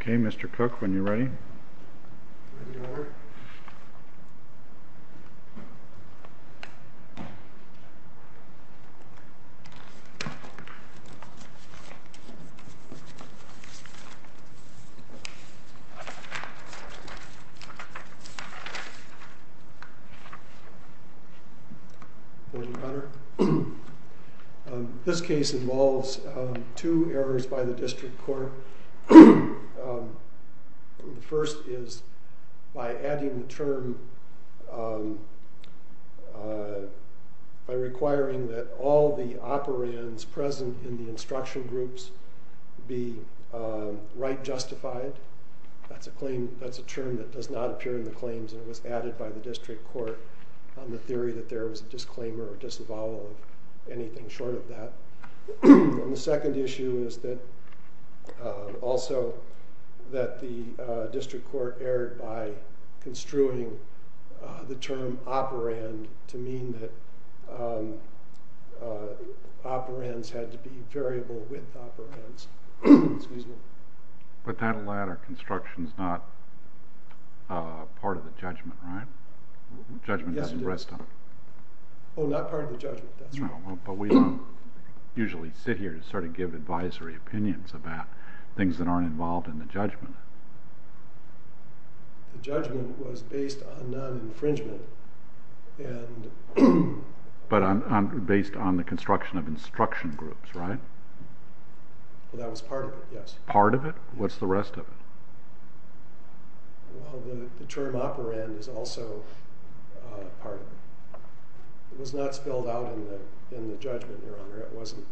Okay, Mr. Cook, when you're ready. Good morning, Your Honor. This case involves two errors by the district court. The first is by adding the term, by requiring that all the operands present in the instruction groups be right justified. That's a claim, that's a term that does not appear in the claims and it was added by the district court on the theory that there was a disclaimer or disavow of anything short of that. The second issue is that also that the district court erred by construing the term operand to mean that operands had to be variable with operands. But that latter construction is not part of the judgment, right? Yes, it is. The judgment doesn't rest on it. Oh, not part of the judgment, that's right. No, but we don't usually sit here and sort of give advisory opinions about things that aren't involved in the judgment. The judgment was based on non-infringement. But based on the construction of instruction groups, right? That was part of it, yes. Part of it? What's the rest of it? Well, the term operand is also part of it. It was not spelled out in the judgment, Your Honor. It wasn't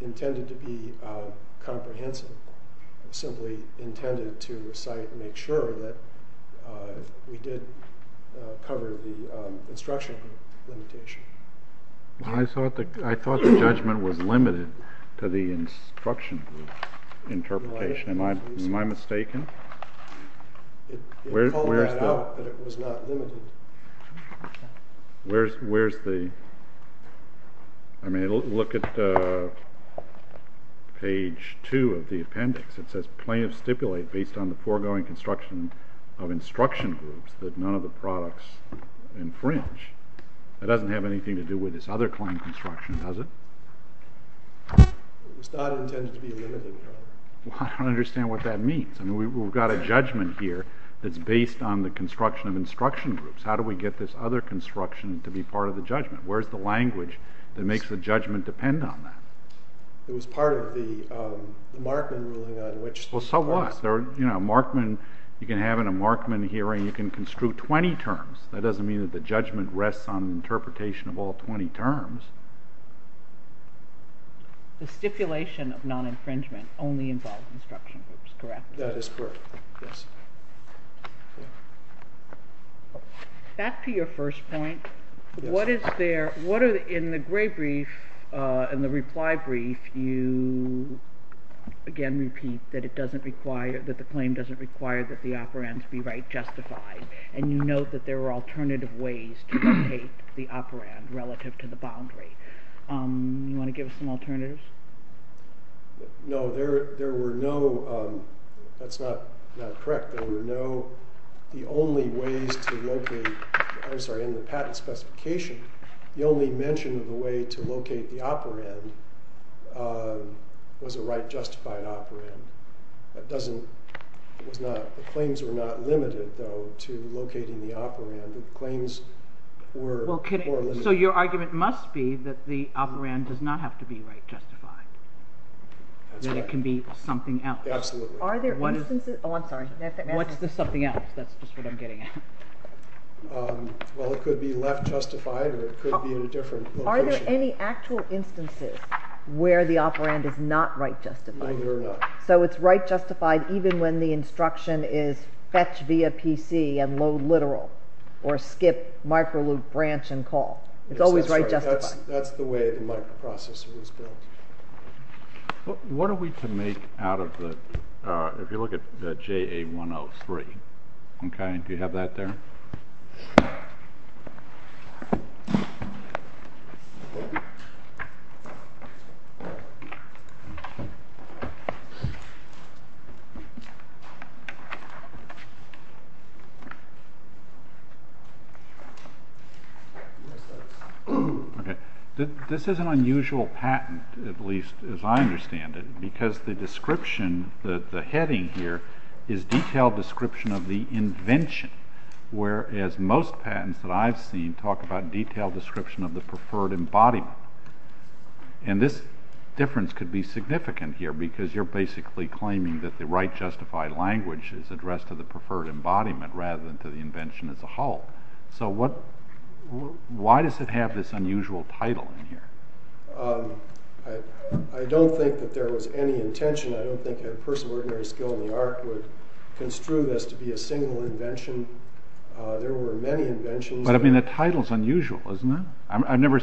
intended to be comprehensive. It was simply intended to recite and make sure that we did cover the instruction group limitation. I thought the judgment was limited to the instruction group interpretation. Am I mistaken? It called that out, but it was not limited. Where's the—I mean, look at page 2 of the appendix. It says plaintiff stipulate based on the foregoing construction of instruction groups that none of the products infringe. That doesn't have anything to do with this other claim construction, does it? It was not intended to be limited, Your Honor. Well, I don't understand what that means. I mean, we've got a judgment here that's based on the construction of instruction groups. How do we get this other construction to be part of the judgment? Where's the language that makes the judgment depend on that? It was part of the Markman ruling on which— Well, so what? You can have in a Markman hearing, you can construe 20 terms. That doesn't mean that the judgment rests on interpretation of all 20 terms. The stipulation of non-infringement only involves instruction groups, correct? That is correct, yes. Back to your first point, what is there— in the gray brief, in the reply brief, you, again, repeat that it doesn't require— that the claim doesn't require that the operands be right justified, and you note that there are alternative ways to locate the operand relative to the boundary. Do you want to give us some alternatives? No, there were no—that's not correct. There were no—the only ways to locate—I'm sorry, in the patent specification, the only mention of a way to locate the operand was a right justified operand. That doesn't—it was not—the claims were not limited, though, to locating the operand. The claims were— So your argument must be that the operand does not have to be right justified. That's right. That it can be something else. Absolutely. Are there instances—oh, I'm sorry. What's the something else? That's just what I'm getting at. Well, it could be left justified, or it could be in a different location. Are there any actual instances where the operand is not right justified? Either or not. So it's right justified even when the instruction is fetch via PC and load literal, or skip micro loop branch and call. It's always right justified. That's the way the microprocessor was built. What are we to make out of the—if you look at the JA103, okay, do you have that there? Okay. This is an unusual patent, at least as I understand it, because the description—the heading here is detailed description of the invention, whereas most patents that I've seen talk about detailed description of the preferred embodiment. And this difference could be significant here because you're basically claiming that the right justified language is addressed to the preferred embodiment rather than to the invention as a whole. So why does it have this unusual title in here? I don't think that there was any intention. I don't think a person of ordinary skill in the art would construe this to be a single invention. There were many inventions. But, I mean, the title's unusual, isn't it? I've never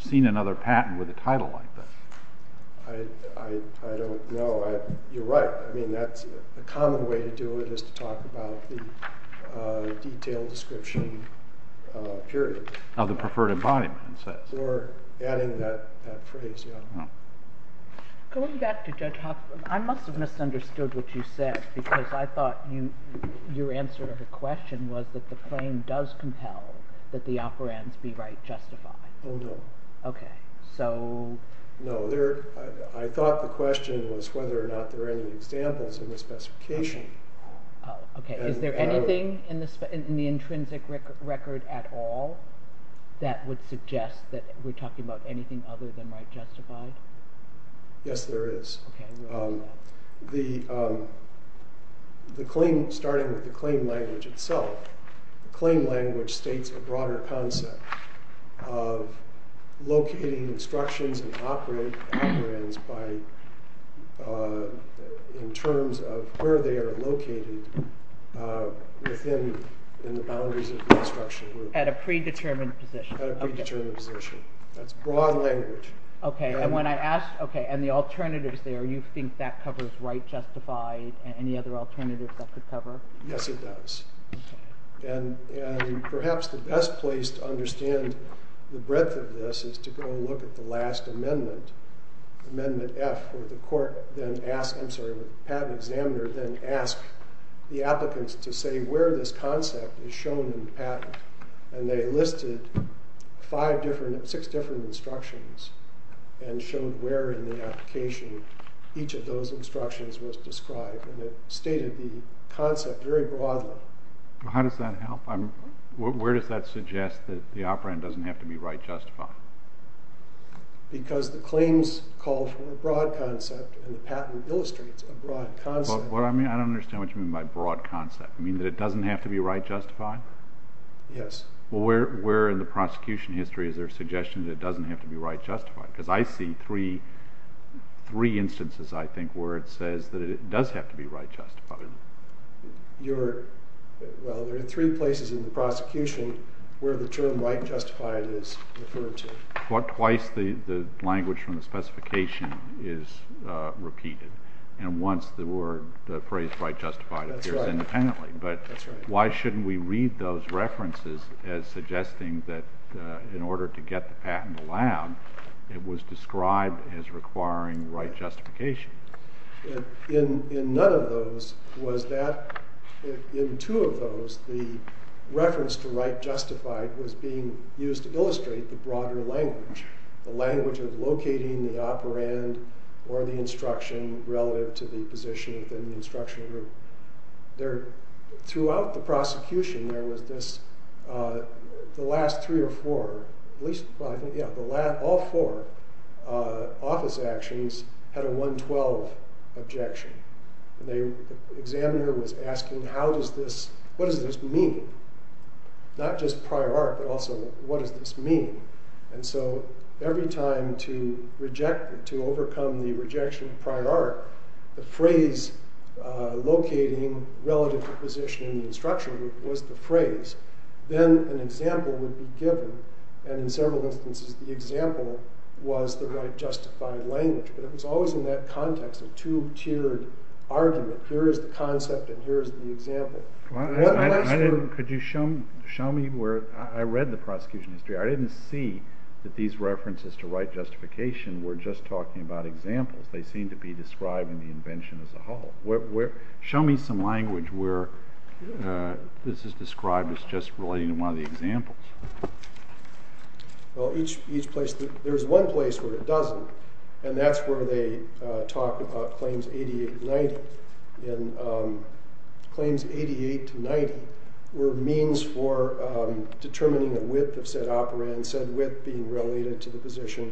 seen another patent with a title like this. I don't know. You're right. I mean, a common way to do it is to talk about the detailed description, period. Of the preferred embodiment, it says. Or adding that phrase, yeah. Going back to Judge Hoffman, I must have misunderstood what you said because I thought your answer to the question was that the claim does compel that the operands be right justified. Oh, no. Okay. So... No, I thought the question was whether or not there are any examples in the specification. Oh, okay. Is there anything in the intrinsic record at all that would suggest that we're talking about anything other than right justified? Yes, there is. Okay. The claim, starting with the claim language itself, the claim language states a broader concept of locating instructions and operating operands in terms of where they are located within the boundaries of the instruction group. At a predetermined position. At a predetermined position. That's broad language. Okay. And the alternatives there, you think that covers right justified and any other alternatives that could cover? Yes, it does. Okay. And perhaps the best place to understand the breadth of this is to go look at the last amendment, Amendment F, where the patent examiner then asked the applicants to say where this concept is shown in the patent. And they listed six different instructions. And showed where in the application each of those instructions was described. And it stated the concept very broadly. How does that help? Where does that suggest that the operand doesn't have to be right justified? Because the claims call for a broad concept and the patent illustrates a broad concept. What I mean, I don't understand what you mean by broad concept. You mean that it doesn't have to be right justified? Yes. Well, where in the prosecution history is there a suggestion that it doesn't have to be right justified? Because I see three instances, I think, where it says that it does have to be right justified. Well, there are three places in the prosecution where the term right justified is referred to. Twice the language from the specification is repeated. And once the phrase right justified appears independently. But why shouldn't we read those references as suggesting that in order to get the patent allowed, it was described as requiring right justification? In none of those was that, in two of those, the reference to right justified was being used to illustrate the broader language. The language of locating the operand or the instruction relative to the position within the instruction group. Throughout the prosecution, there was this, the last three or four, at least five, all four office actions had a 112 objection. And the examiner was asking, what does this mean? Not just prior art, but also what does this mean? And so every time to reject, to overcome the rejection of prior art, the phrase locating relative to position in the instruction group was the phrase. Then an example would be given. And in several instances, the example was the right justified language. But it was always in that context, a two-tiered argument. Here is the concept and here is the example. Could you show me where, I read the prosecution history. I didn't see that these references to right justification were just talking about examples. They seem to be describing the invention as a whole. Show me some language where this is described as just relating to one of the examples. Well, each place, there is one place where it doesn't. And that's where they talk about claims 88 to 90. And claims 88 to 90 were means for determining the width of said operand, and said width being related to the position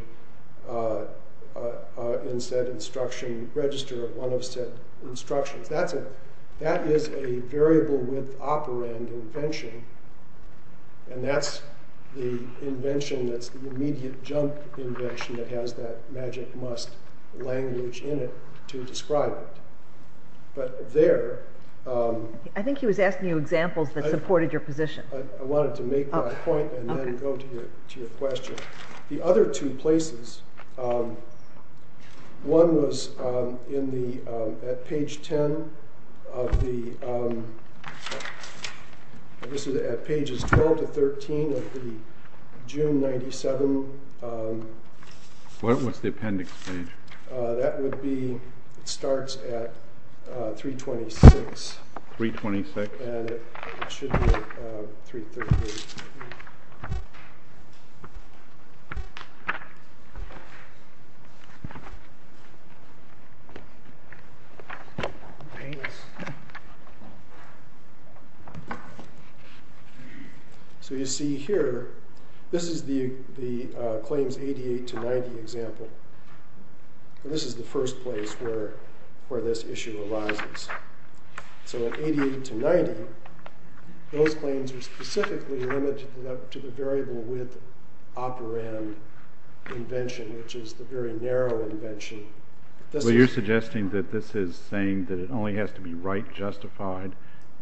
in said instruction register, one of said instructions. That is a variable width operand invention. And that's the invention that's the immediate jump invention that has that magic must language in it to describe it. But there... I think he was asking you examples that supported your position. I wanted to make my point and then go to your question. The other two places, one was at page 10 of the... This is at pages 12 to 13 of the June 97... What was the appendix page? That would be, it starts at 326. 326? And it should be at 330. So you see here, this is the claims 88 to 90 example. And this is the first place where this issue arises. So 88 to 90, those claims are specifically limited to the variable width operand invention, which is the very narrow invention. So you're suggesting that this is saying that it only has to be right justified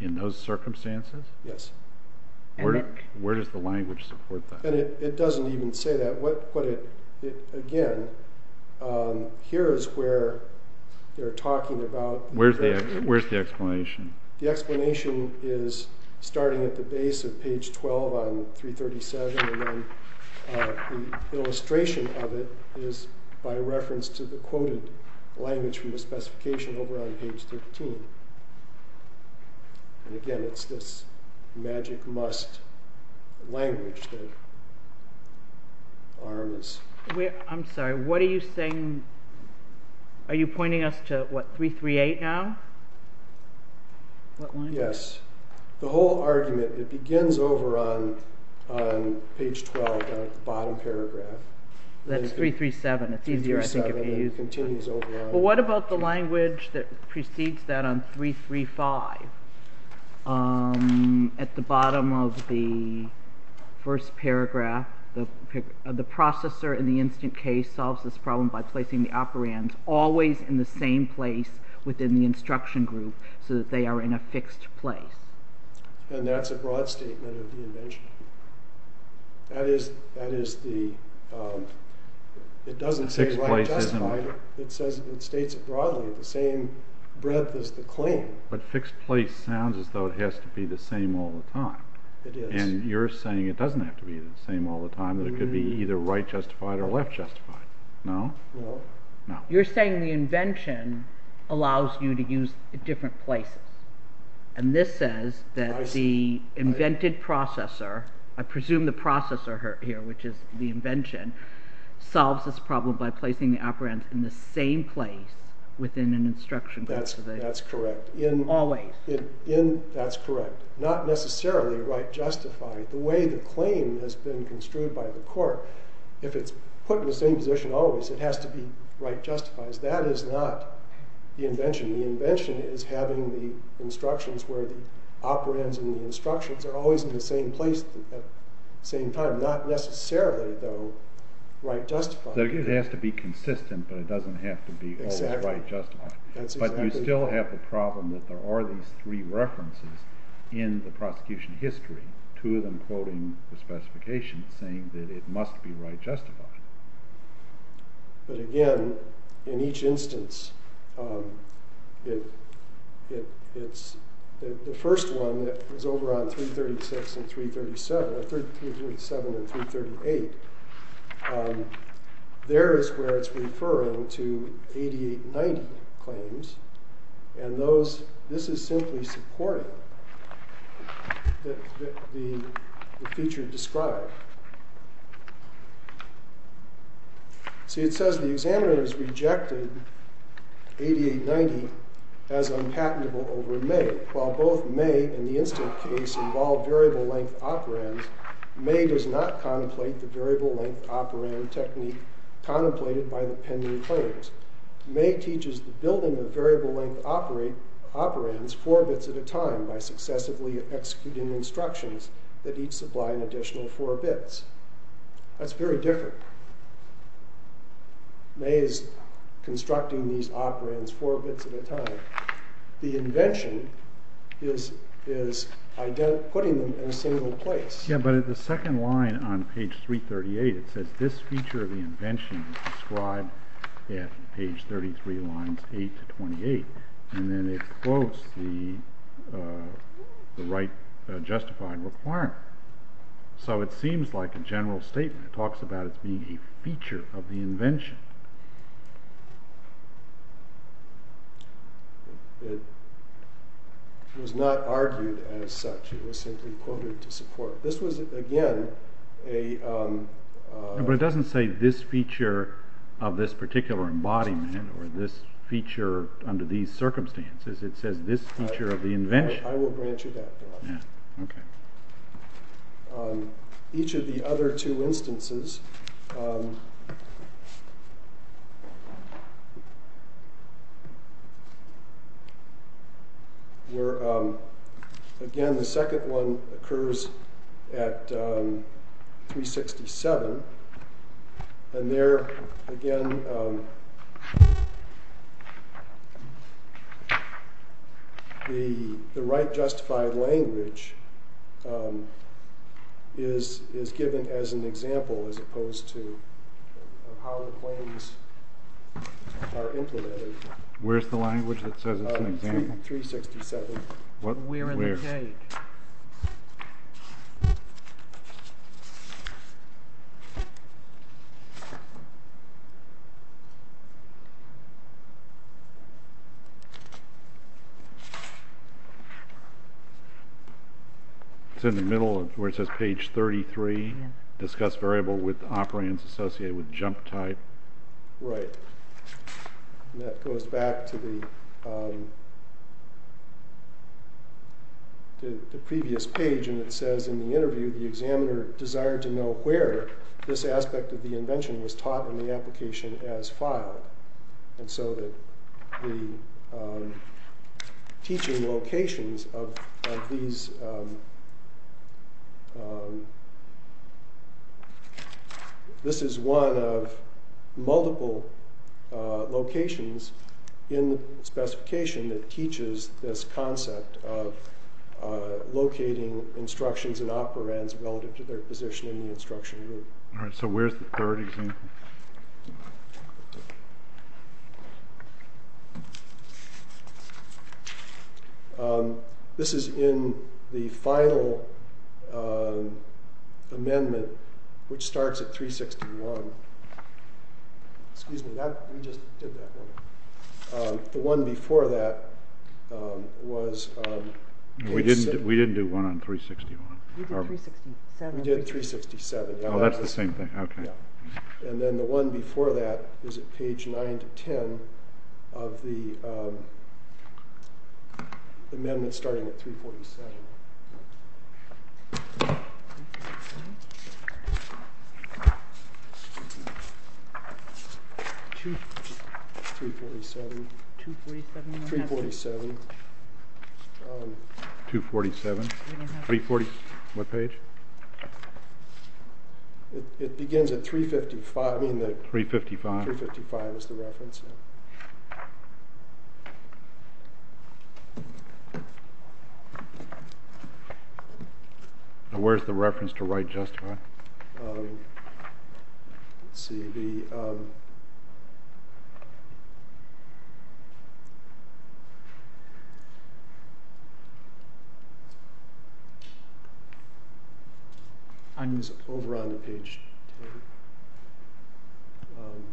in those circumstances? Yes. Where does the language support that? It doesn't even say that. Again, here is where they're talking about... Where's the explanation? The explanation is starting at the base of page 12 on 337, and then the illustration of it is by reference to the quoted language from the specification over on page 13. And again, it's this magic must language that arms... I'm sorry, what are you saying? Are you pointing us to what, 338 now? Yes. The whole argument, it begins over on page 12, the bottom paragraph. That's 337. It's easier, I think, if you use that. Well, what about the language that precedes that on 335? At the bottom of the first paragraph, the processor in the instant case solves this problem by placing the operands always in the same place within the instruction group, so that they are in a fixed place. And that's a broad statement of the invention. That is the... When I say right justified, it states it broadly, the same breadth as the claim. But fixed place sounds as though it has to be the same all the time. It is. And you're saying it doesn't have to be the same all the time, that it could be either right justified or left justified. No? No. You're saying the invention allows you to use different places. And this says that the invented processor, I presume the processor here, which is the invention, solves this problem by placing the operands in the same place within an instruction group. That's correct. Always. That's correct. Not necessarily right justified. The way the claim has been construed by the court, if it's put in the same position always, it has to be right justified. That is not the invention. The invention is having the instructions where the operands and the instructions are always in the same place at the same time. They are not necessarily, though, right justified. It has to be consistent, but it doesn't have to be always right justified. But you still have the problem that there are these three references in the prosecution history, two of them quoting the specifications saying that it must be right justified. But again, in each instance, it's the first one that was over on 336 and 337, 337 and 338, there is where it's referring to 8890 claims. And this is simply supporting the feature described. See, it says the examiner has rejected 8890 as unpatentable over May. While both May and the instant case involve variable length operands, May does not contemplate the variable length operand technique contemplated by the pending claims. May teaches the building of variable length operands four bits at a time by successively executing instructions that each supply an additional four bits. That's very different. May is constructing these operands four bits at a time. The invention is putting them in a single place. Yeah, but at the second line on page 338, it says this feature of the invention is described at page 33, lines 8 to 28. And then it quotes the right justified requirement. So it seems like a general statement. It talks about it being a feature of the invention. It was not argued as such. It was simply quoted to support. This was, again, a... But it doesn't say this feature of this particular embodiment or this feature under these circumstances. It says this feature of the invention. I will grant you that, Bill. Yeah, OK. Each of the other two instances... Again, the second one occurs at 367. And there, again... The right justified language is given as an example as opposed to how the claims are implemented. Where's the language that says it's an example? 367. Where in the cake? OK. It's in the middle where it says page 33. Discuss variable with operands associated with jump type. Right. And that goes back to the previous page. The examiner desired to know where this aspect of the invention was taught in the application as filed. And so the teaching locations of these... This is one of multiple locations in the specification that teaches this concept of locating instructions and operands relative to their position in the instruction group. All right, so where's the third example? This is in the final amendment, which starts at 361. Excuse me, we just did that one. The one before that was... We didn't do one on 361. We did 367. Oh, that's the same thing. OK. And then the one before that is at page 9-10 of the amendment starting at 347. OK. 347. 247. 247. What page? It begins at 355. 355. 355 is the reference. Now, where's the reference to right justify? Let's see. It's over on page 10. Um...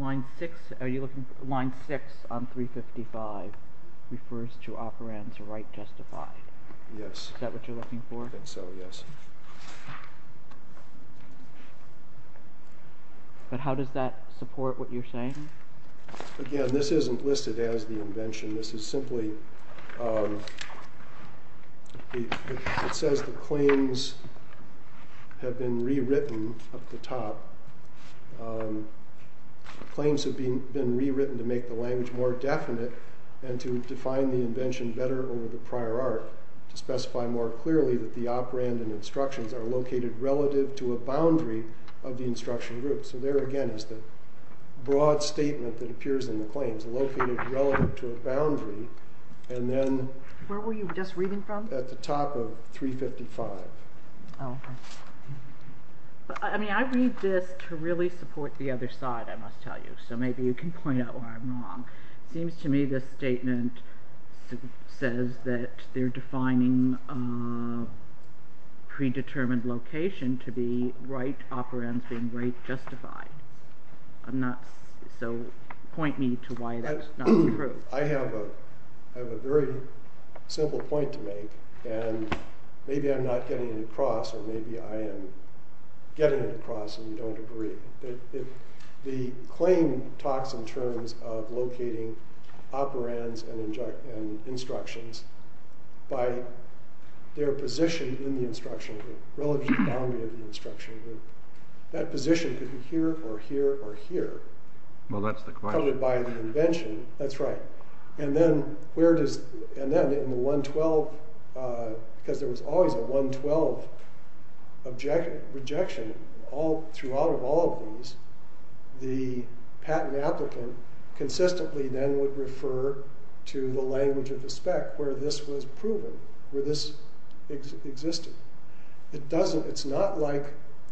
Line 6 on 355 refers to operands right justify. Yes. Is that what you're looking for? I think so, yes. But how does that support what you're saying? Again, this isn't listed as the invention. This is simply... It says the claims have been rewritten at the top. Claims have been rewritten to make the language more definite and to define the invention better over the prior art to specify more clearly that the operand and instructions are located relative to a boundary of the instruction group. So there again is the broad statement that appears in the claims, located relative to a boundary, and then... Where were you just reading from? At the top of 355. Oh, OK. I mean, I read this to really support the other side, I must tell you, so maybe you can point out where I'm wrong. It seems to me this statement says that they're defining predetermined location to be right operands being right justified. So point me to why that's not true. I have a very simple point to make, and maybe I'm not getting it across, or maybe I am getting it across and you don't agree. The claim talks in terms of locating operands and instructions by their position in the instruction group, relative to the boundary of the instruction group. That position could be here or here or here. Well, that's the question. Probably by the invention. That's right. And then where does... And then in the 112, because there was always a 112 rejection, throughout of all of these, the patent applicant consistently then would refer to the language of the spec where this was proven, where this existed. It's not like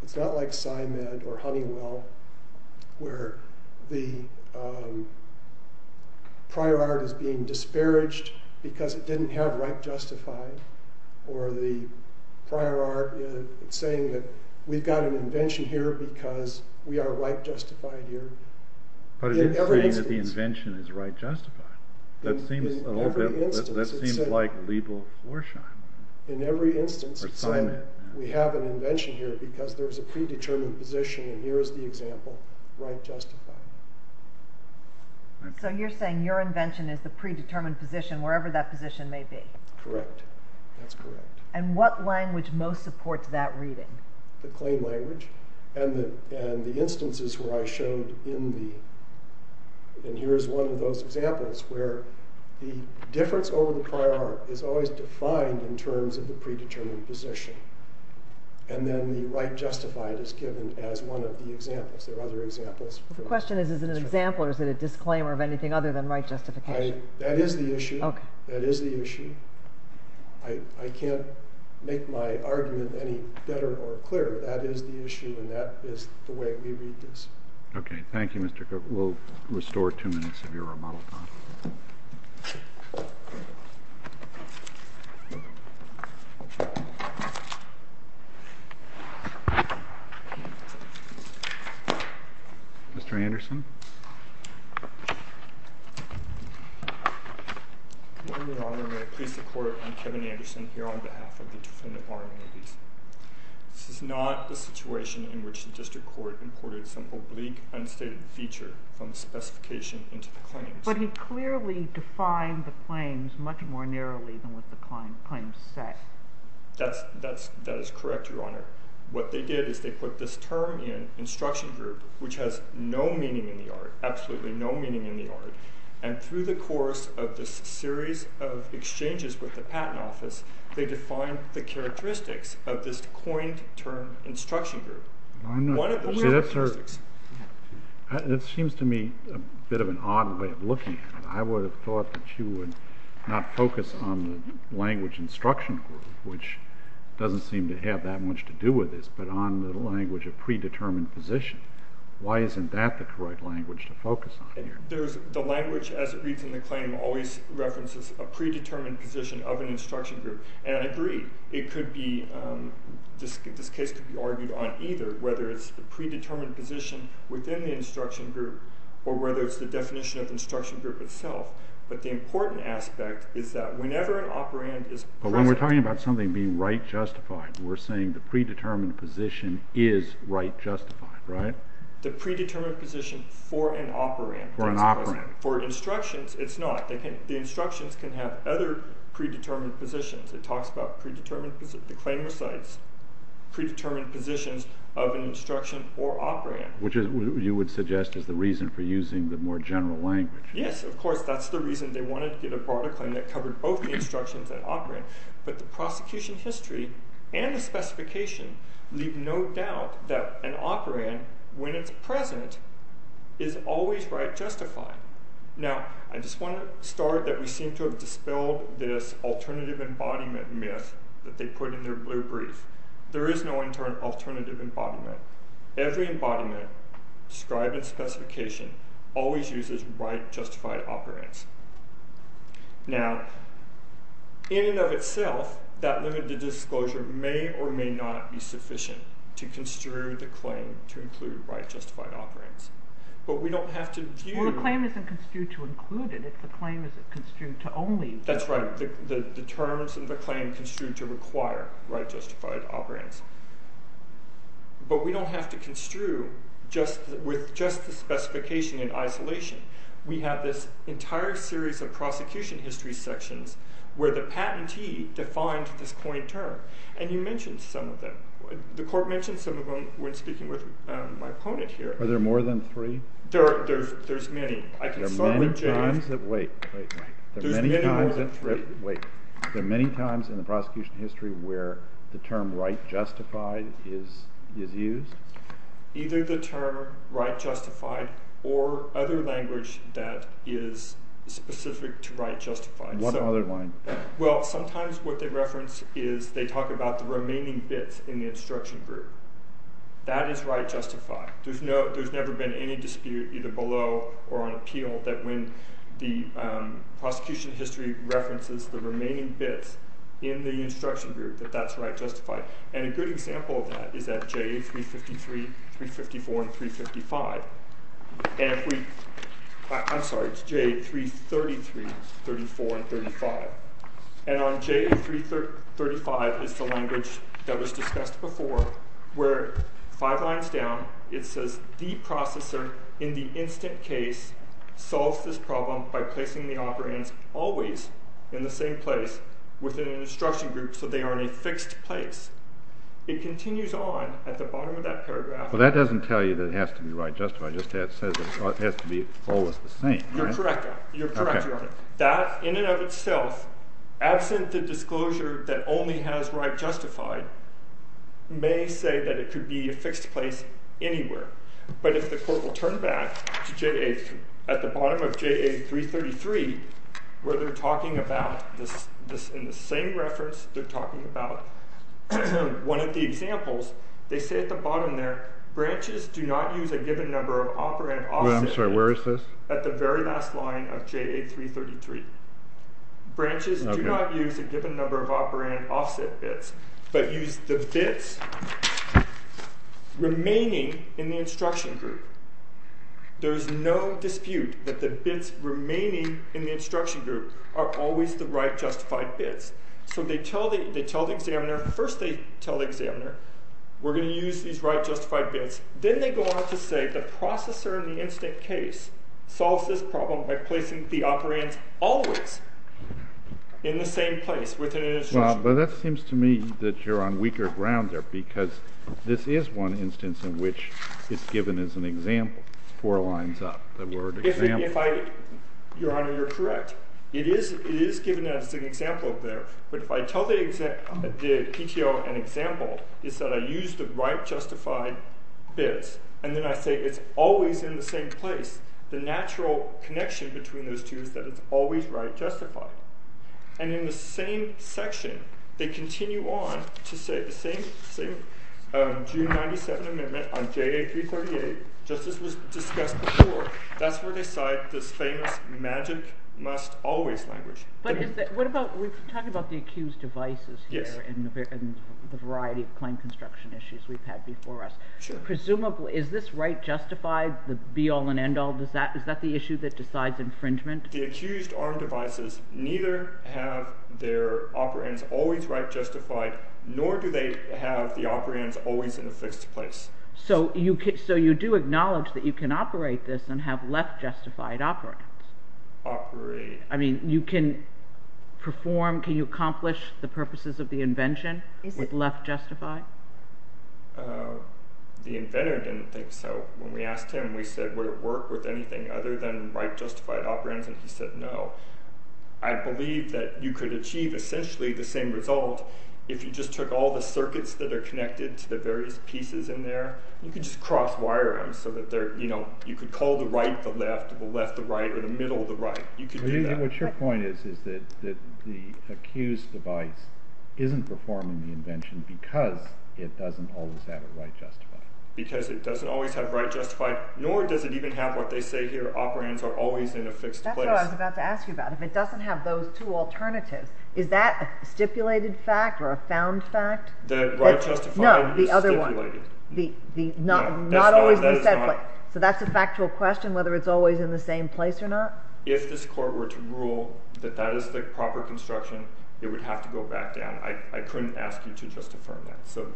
SciMed or Honeywell, where the prior art is being disparaged because it didn't have right justified, or the prior art is saying that we've got an invention here because we are right justified here. But it is saying that the invention is right justified. That seems a little bit... In every instance we have an invention here because there is a predetermined position, and here is the example, right justified. So you're saying your invention is the predetermined position wherever that position may be. Correct. That's correct. And what language most supports that reading? The claim language and the instances where I showed in the... And here is one of those examples where the difference over the prior art is always defined in terms of the predetermined position, and then the right justified is given as one of the examples. There are other examples. The question is, is it an example, or is it a disclaimer of anything other than right justification? That is the issue. I can't make my argument any better or clearer. That is the issue, and that is the way we read this. Okay. Thank you, Mr. Cook. We'll restore two minutes of your remodel time. Mr. Anderson. Good morning, Your Honor. May it please the Court, I'm Kevin Anderson here on behalf of the Defendant Bar Amenities. This is not the situation in which the district court imported some oblique, unstated feature from the specification into the claims. But he clearly defined the claims much more narrowly than I did. That is correct, Your Honor. What they did is they put this term in instruction group, which has no meaning in the art, absolutely no meaning in the art. And through the course of this series of exchanges with the Patent Office, they defined the characteristics of this coined term instruction group. It seems to me a bit of an odd way of looking at it. I would have thought that you would not focus on the language instruction group, which doesn't seem to have that much to do with this, but on the language of predetermined position. Why isn't that the correct language to focus on here? The language, as it reads in the claim, always references a predetermined position of an instruction group. And I agree. This case could be argued on either, whether it's the predetermined position within the instruction group or whether it's the definition of the instruction group itself. But the important aspect is that whenever an operand is present... But when we're talking about something being right justified, we're saying the predetermined position is right justified, right? The predetermined position for an operand. For an operand. For instructions, it's not. The instructions can have other predetermined positions. It talks about the claim recites predetermined positions of an instruction or operand. Which you would suggest is the reason for using the more general language. Yes, of course, that's the reason they wanted to get a broader claim that covered both the instructions and operand. But the prosecution history and the specification leave no doubt that an operand, when it's present, is always right justified. Now, I just want to start that we seem to have dispelled this alternative embodiment myth that they put in their blue brief. There is no alternative embodiment. Every embodiment, scribe and specification, always uses right justified operands. Now, in and of itself, that limited disclosure may or may not be sufficient to construe the claim to include right justified operands. But we don't have to view... Well, the claim isn't construed to include it. The claim is construed to only... That's right. The terms of the claim are construed to require right justified operands. But we don't have to construe with just the specification in isolation. We have this entire series of prosecution history sections where the patentee defined this coined term. And you mentioned some of them. The court mentioned some of them when speaking with my opponent here. Are there more than three? There's many. There are many times that... Wait, wait, wait. There's many more than three. There are many times in the prosecution history where the term right justified is used? Either the term right justified or other language that is specific to right justified. What other line? Well, sometimes what they reference is they talk about the remaining bits in the instruction group. That is right justified. There's never been any dispute, either below or on appeal, that when the prosecution history references the remaining bits in the instruction group that that's right justified. And a good example of that is at J353, 354, and 355. And if we... I'm sorry, it's J333, 34, and 35. And on J335 is the language that was discussed before where five lines down it says the processor in the instant case solves this problem by placing the operands always in the same place within an instruction group so they are in a fixed place. It continues on at the bottom of that paragraph. But that doesn't tell you that it has to be right justified. It just says it has to be always the same. You're correct, Your Honor. That in and of itself, absent the disclosure that only has right justified, may say that it could be a fixed place anywhere. But if the court will turn back to J... At the bottom of J333, where they're talking about... In the same reference, they're talking about one of the examples. They say at the bottom there, branches do not use a given number of operand offset bits... I'm sorry, where is this? At the very last line of J333. Branches do not use a given number of operand offset bits, but use the bits remaining in the instruction group. There's no dispute that the bits remaining in the instruction group are always the right justified bits. So they tell the examiner... First they tell the examiner, we're going to use these right justified bits. Then they go on to say, the processor in the instant case solves this problem by placing the operands always in the same place within an instruction group. Well, but that seems to me that you're on weaker ground there because this is one instance in which it's given as an example. Four lines up, the word example. Your Honor, you're correct. It is given as an example there. But if I tell the PTO an example, is that I use the right justified bits, and then I say it's always in the same place, the natural connection between those two is that it's always right justified. And in the same section, they continue on to say the same... June 97 amendment on JA338, just as was discussed before, that's where they cite this famous magic must always language. But what about... We've talked about the accused devices here and the variety of claim construction issues we've had before us. Presumably, is this right justified, the be-all and end-all? Is that the issue that decides infringement? The accused aren't devices. Neither have their operands always right justified, nor do they have the operands always in a fixed place. So you do acknowledge that you can operate this and have left justified operands? Operate... I mean, you can perform, can you accomplish the purposes of the invention with left justified? The inventor didn't think so. When we asked him, we said, would it work with anything other than right justified operands? And he said, no. I believe that you could achieve essentially the same result if you just took all the circuits that are connected to the various pieces in there, you could just cross-wire them, so that you could call the right the left, the left the right, or the middle the right. What your point is, is that the accused device isn't performing the invention because it doesn't always have it right justified. Because it doesn't always have it right justified, nor does it even have what they say here, that the operands are always in a fixed place. That's what I was about to ask you about. If it doesn't have those two alternatives, is that a stipulated fact or a found fact? That right justified is stipulated. No, the other one. Not always in the same place. So that's a factual question, whether it's always in the same place or not? If this court were to rule that that is the proper construction, it would have to go back down. I couldn't ask you to justify that. So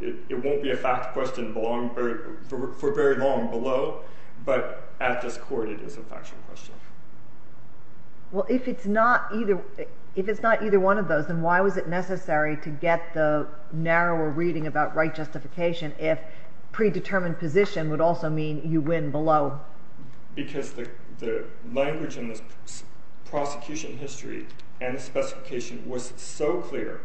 it won't be a fact question for very long below, but at this court it is a factual question. Well, if it's not either one of those, then why was it necessary to get the narrower reading about right justification if predetermined position would also mean you win below? Because the language in the prosecution history and the specification was so clear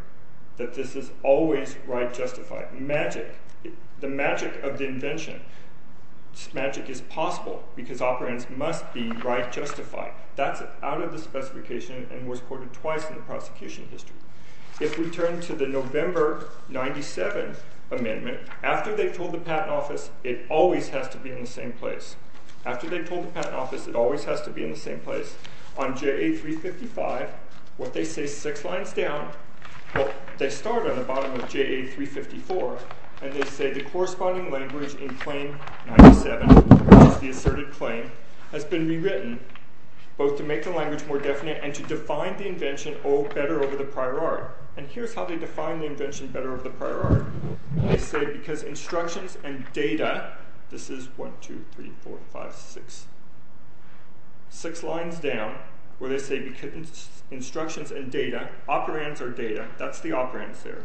that this is always right justified. Magic. The magic of the invention. This magic is possible because operands must be right justified. That's out of the specification and was quoted twice in the prosecution history. If we turn to the November 1997 amendment, after they told the Patent Office it always has to be in the same place. After they told the Patent Office it always has to be in the same place. On JA355, what they say six lines down... Well, they start on the bottom of JA354 and they say the corresponding language in claim 97, which is the asserted claim, has been rewritten both to make the language more definite and to define the invention better over the prior art. And here's how they define the invention better over the prior art. They say because instructions and data... This is one, two, three, four, five, six. Six lines down where they say because instructions and data, operands or data, that's the operands there,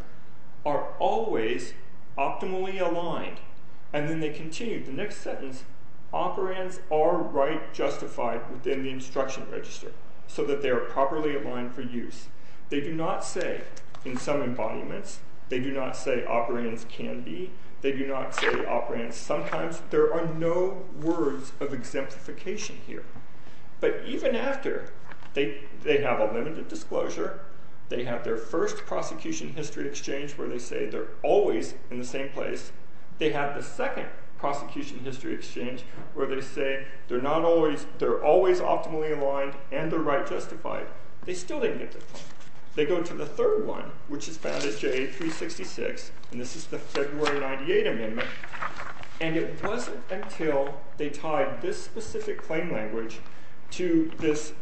are always optimally aligned. And then they continue. The next sentence, operands are right justified within the instruction register so that they are properly aligned for use. They do not say, in some embodiments, they do not say operands can be. They do not say operands sometimes. There are no words of exemplification here. But even after they have a limited disclosure, they have their first prosecution history exchange where they say they're always in the same place. They have the second prosecution history exchange where they say they're always optimally aligned and they're right justified. They still didn't get this one. They go to the third one, which is found in JA366, and this is the February 98 amendment. And it wasn't until they tied this specific claim language to this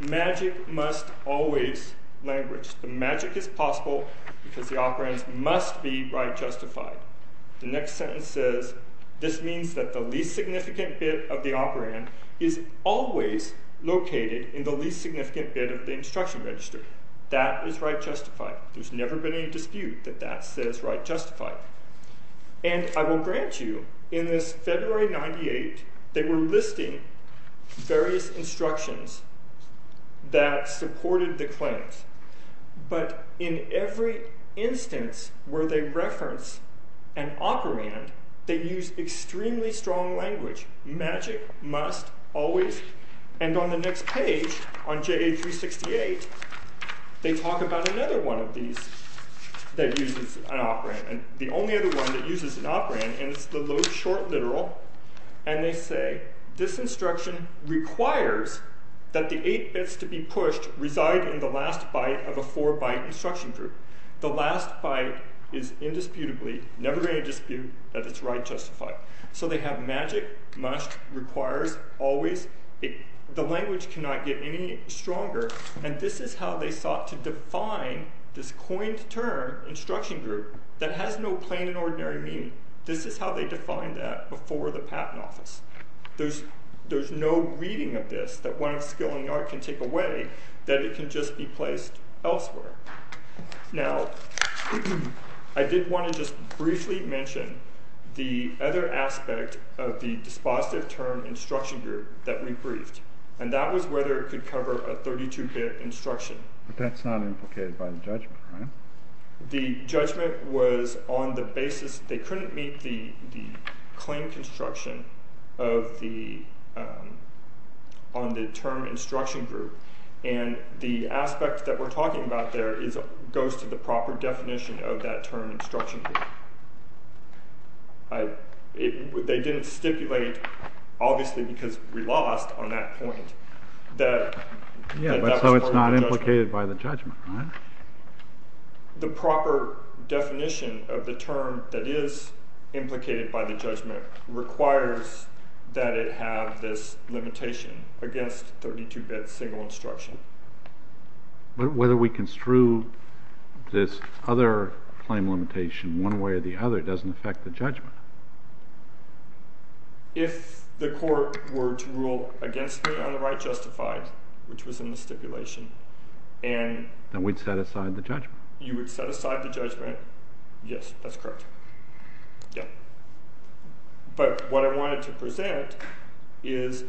magic must always language. The magic is possible because the operands must be right justified. The next sentence says, this means that the least significant bit of the operand is always located in the least significant bit of the instruction register. That is right justified. There's never been any dispute that that says right justified. And I will grant you, in this February 98, they were listing various instructions that supported the claims. But in every instance where they reference an operand, they use extremely strong language. Magic must always. And on the next page, on JA368, they talk about another one of these that uses an operand. The only other one that uses an operand, and it's the short literal. And they say, this instruction requires that the 8 bits to be pushed reside in the last byte of a 4-byte instruction group. The last byte is indisputably, never going to dispute that it's right justified. So they have magic must requires always. The language cannot get any stronger. And this is how they sought to define this coined term instruction group that has no plain and ordinary meaning. This is how they defined that before the Patent Office. There's no reading of this that one of skill and art can take away that it can just be placed elsewhere. Now, I did want to just briefly mention the other aspect of the dispositive term instruction group that we briefed. And that was whether it could cover a 32-bit instruction. But that's not implicated by the judgment, right? The judgment was on the basis, they couldn't meet the claim construction on the term instruction group. And the aspect that we're talking about there goes to the proper definition of that term instruction group. They didn't stipulate, obviously because we lost on that point, that that was part of the judgment. The proper definition of the term that is implicated by the judgment requires that it have this limitation against 32-bit single instruction. But whether we construe this other claim limitation one way or the other doesn't affect the judgment. If the court were to rule against me on the right justified, which was in the stipulation, then we'd set aside the judgment. You would set aside the judgment. Yes, that's correct. But what I wanted to present is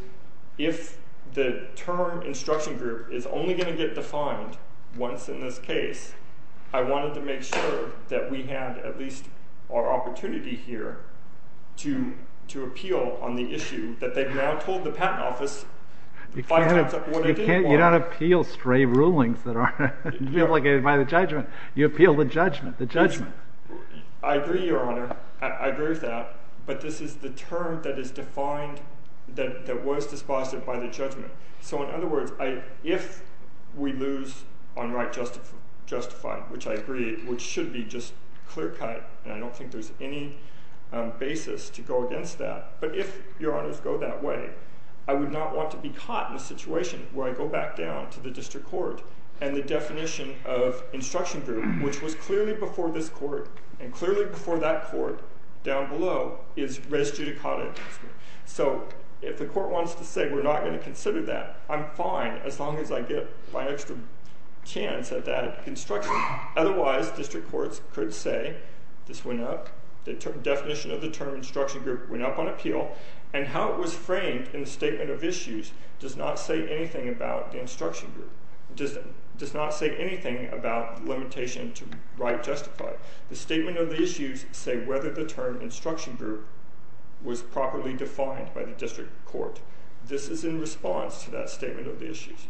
if the term instruction group is only going to get defined once in this case, I wanted to make sure that we had at least our opportunity here to appeal on the issue that they've now told the patent office five times what I did want. You don't appeal stray rulings that are implicated by the judgment. You appeal the judgment, the judgment. I agree, Your Honor. I agree with that. But this is the term that is defined, that was disposed of by the judgment. So in other words, if we lose on right justified, which I agree, which should be just clear-cut, and I don't think there's any basis to go against that, but if, Your Honors, go that way, I would not want to be caught in a situation where I go back down to the district court and the definition of instruction group, which was clearly before this court and clearly before that court down below, is res judicata. So if the court wants to say, we're not going to consider that, I'm fine as long as I get my extra chance at that construction. Otherwise, district courts could say, this went up, the definition of the term instruction group went up on appeal, and how it was framed in the statement of issues does not say anything about the instruction group, does not say anything about the limitation to right justified. The statement of the issues say whether the term instruction group was properly defined by the district court. This is in response to that statement of the issues.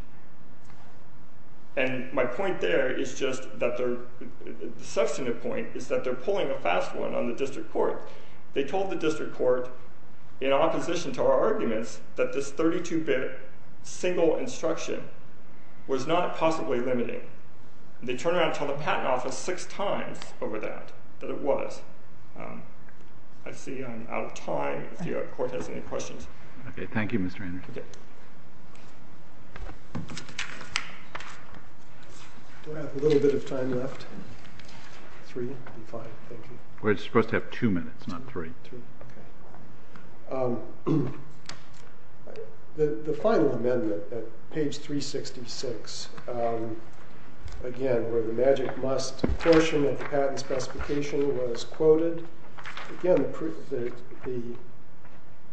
And my point there is just that the substantive point is that they're pulling a fast one on the district court. They told the district court, in opposition to our arguments, that this 32-bit single instruction was not possibly limiting. They turned around and told the patent office six times over that, that it was. I see I'm out of time, if the court has any questions. Okay, thank you, Mr. Anderson. We have a little bit of time left. Three and five, thank you. We're supposed to have two minutes, not three. The final amendment at page 366, again, where the magic must portion of the patent specification was quoted, again, the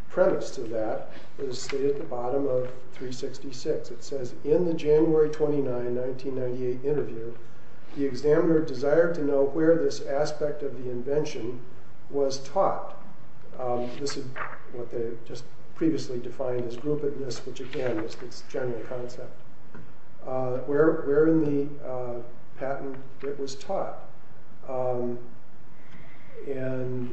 premise to that is stated at the bottom of 366. It says, in the January 29, 1998 interview, the examiner desired to know where this aspect of the invention was taught. This is what they just previously defined as groupedness, which, again, is its general concept. Where in the patent it was taught and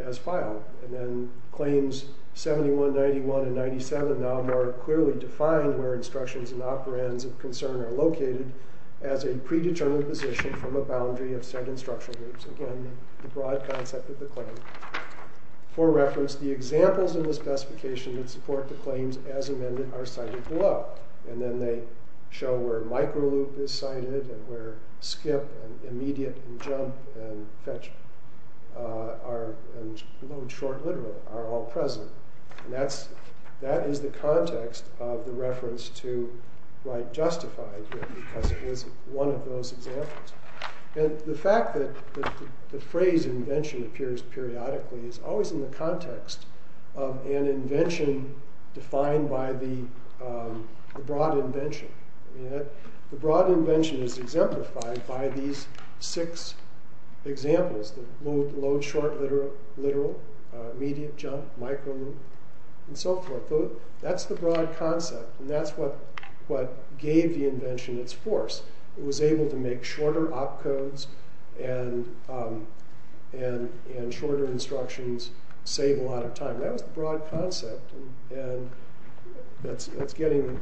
as filed. And then claims 71, 91, and 97 and operands of concern are located as a predetermined position from a boundary of certain structural groups. Again, the broad concept of the claim. For reference, the examples in the specification that support the claims as amended are cited below. And then they show where micro loop is cited and where skip and immediate and jump and fetch are, in short, literal, are all present. And that is the context of the reference to write justified here, because it was one of those examples. And the fact that the phrase invention appears periodically is always in the context of an invention defined by the broad invention. The broad invention is exemplified by these six examples, the loop, load, short, literal, immediate, jump, micro loop, and so forth. That's the broad concept. And that's what gave the invention its force. It was able to make shorter op codes and shorter instructions save a lot of time. That was the broad concept. And the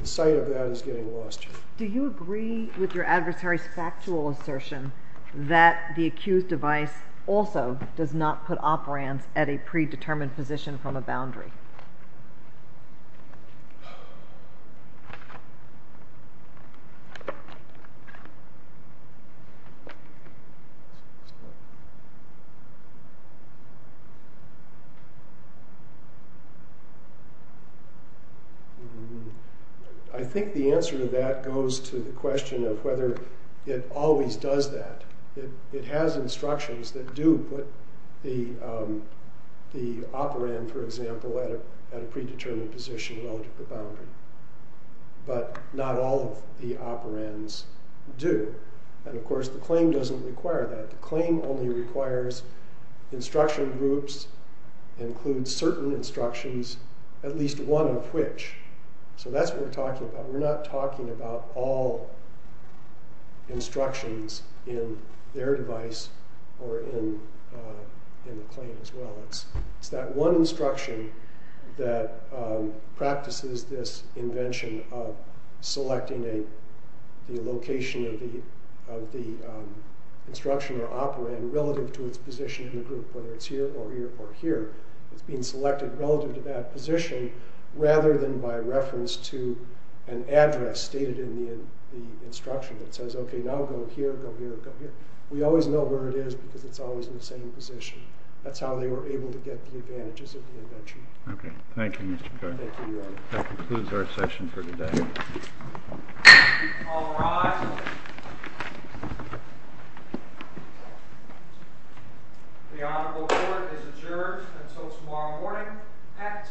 site of that is getting lost here. Do you agree with your adversary's factual assertion that the accused device also does not put operands at a predetermined position from a boundary? Hmm. I think the answer to that goes to the question of whether it always does that. It has instructions that do put the operand, for example, at a predetermined position relative to the boundary. But not all of the operands do. And of course, the claim doesn't require that. The claim only requires instruction groups include certain instructions, at least one of which. So that's what we're talking about. We're not talking about all instructions in their device or in the claim as well. It's that one instruction that practices this invention of selecting the location of the instruction or operand relative to its position in the group, whether it's here or here or here. It's being selected relative to that position rather than by reference to an address stated in the instruction that says, okay, now go here, go here, go here. We always know where it is because it's always in the same position. That's how they were able to get the advantages of the invention. Okay. Thank you, Mr. Carter. Thank you, Your Honor. That concludes our session for today. All rise. The honorable court is adjourned until tomorrow morning at 10 o'clock.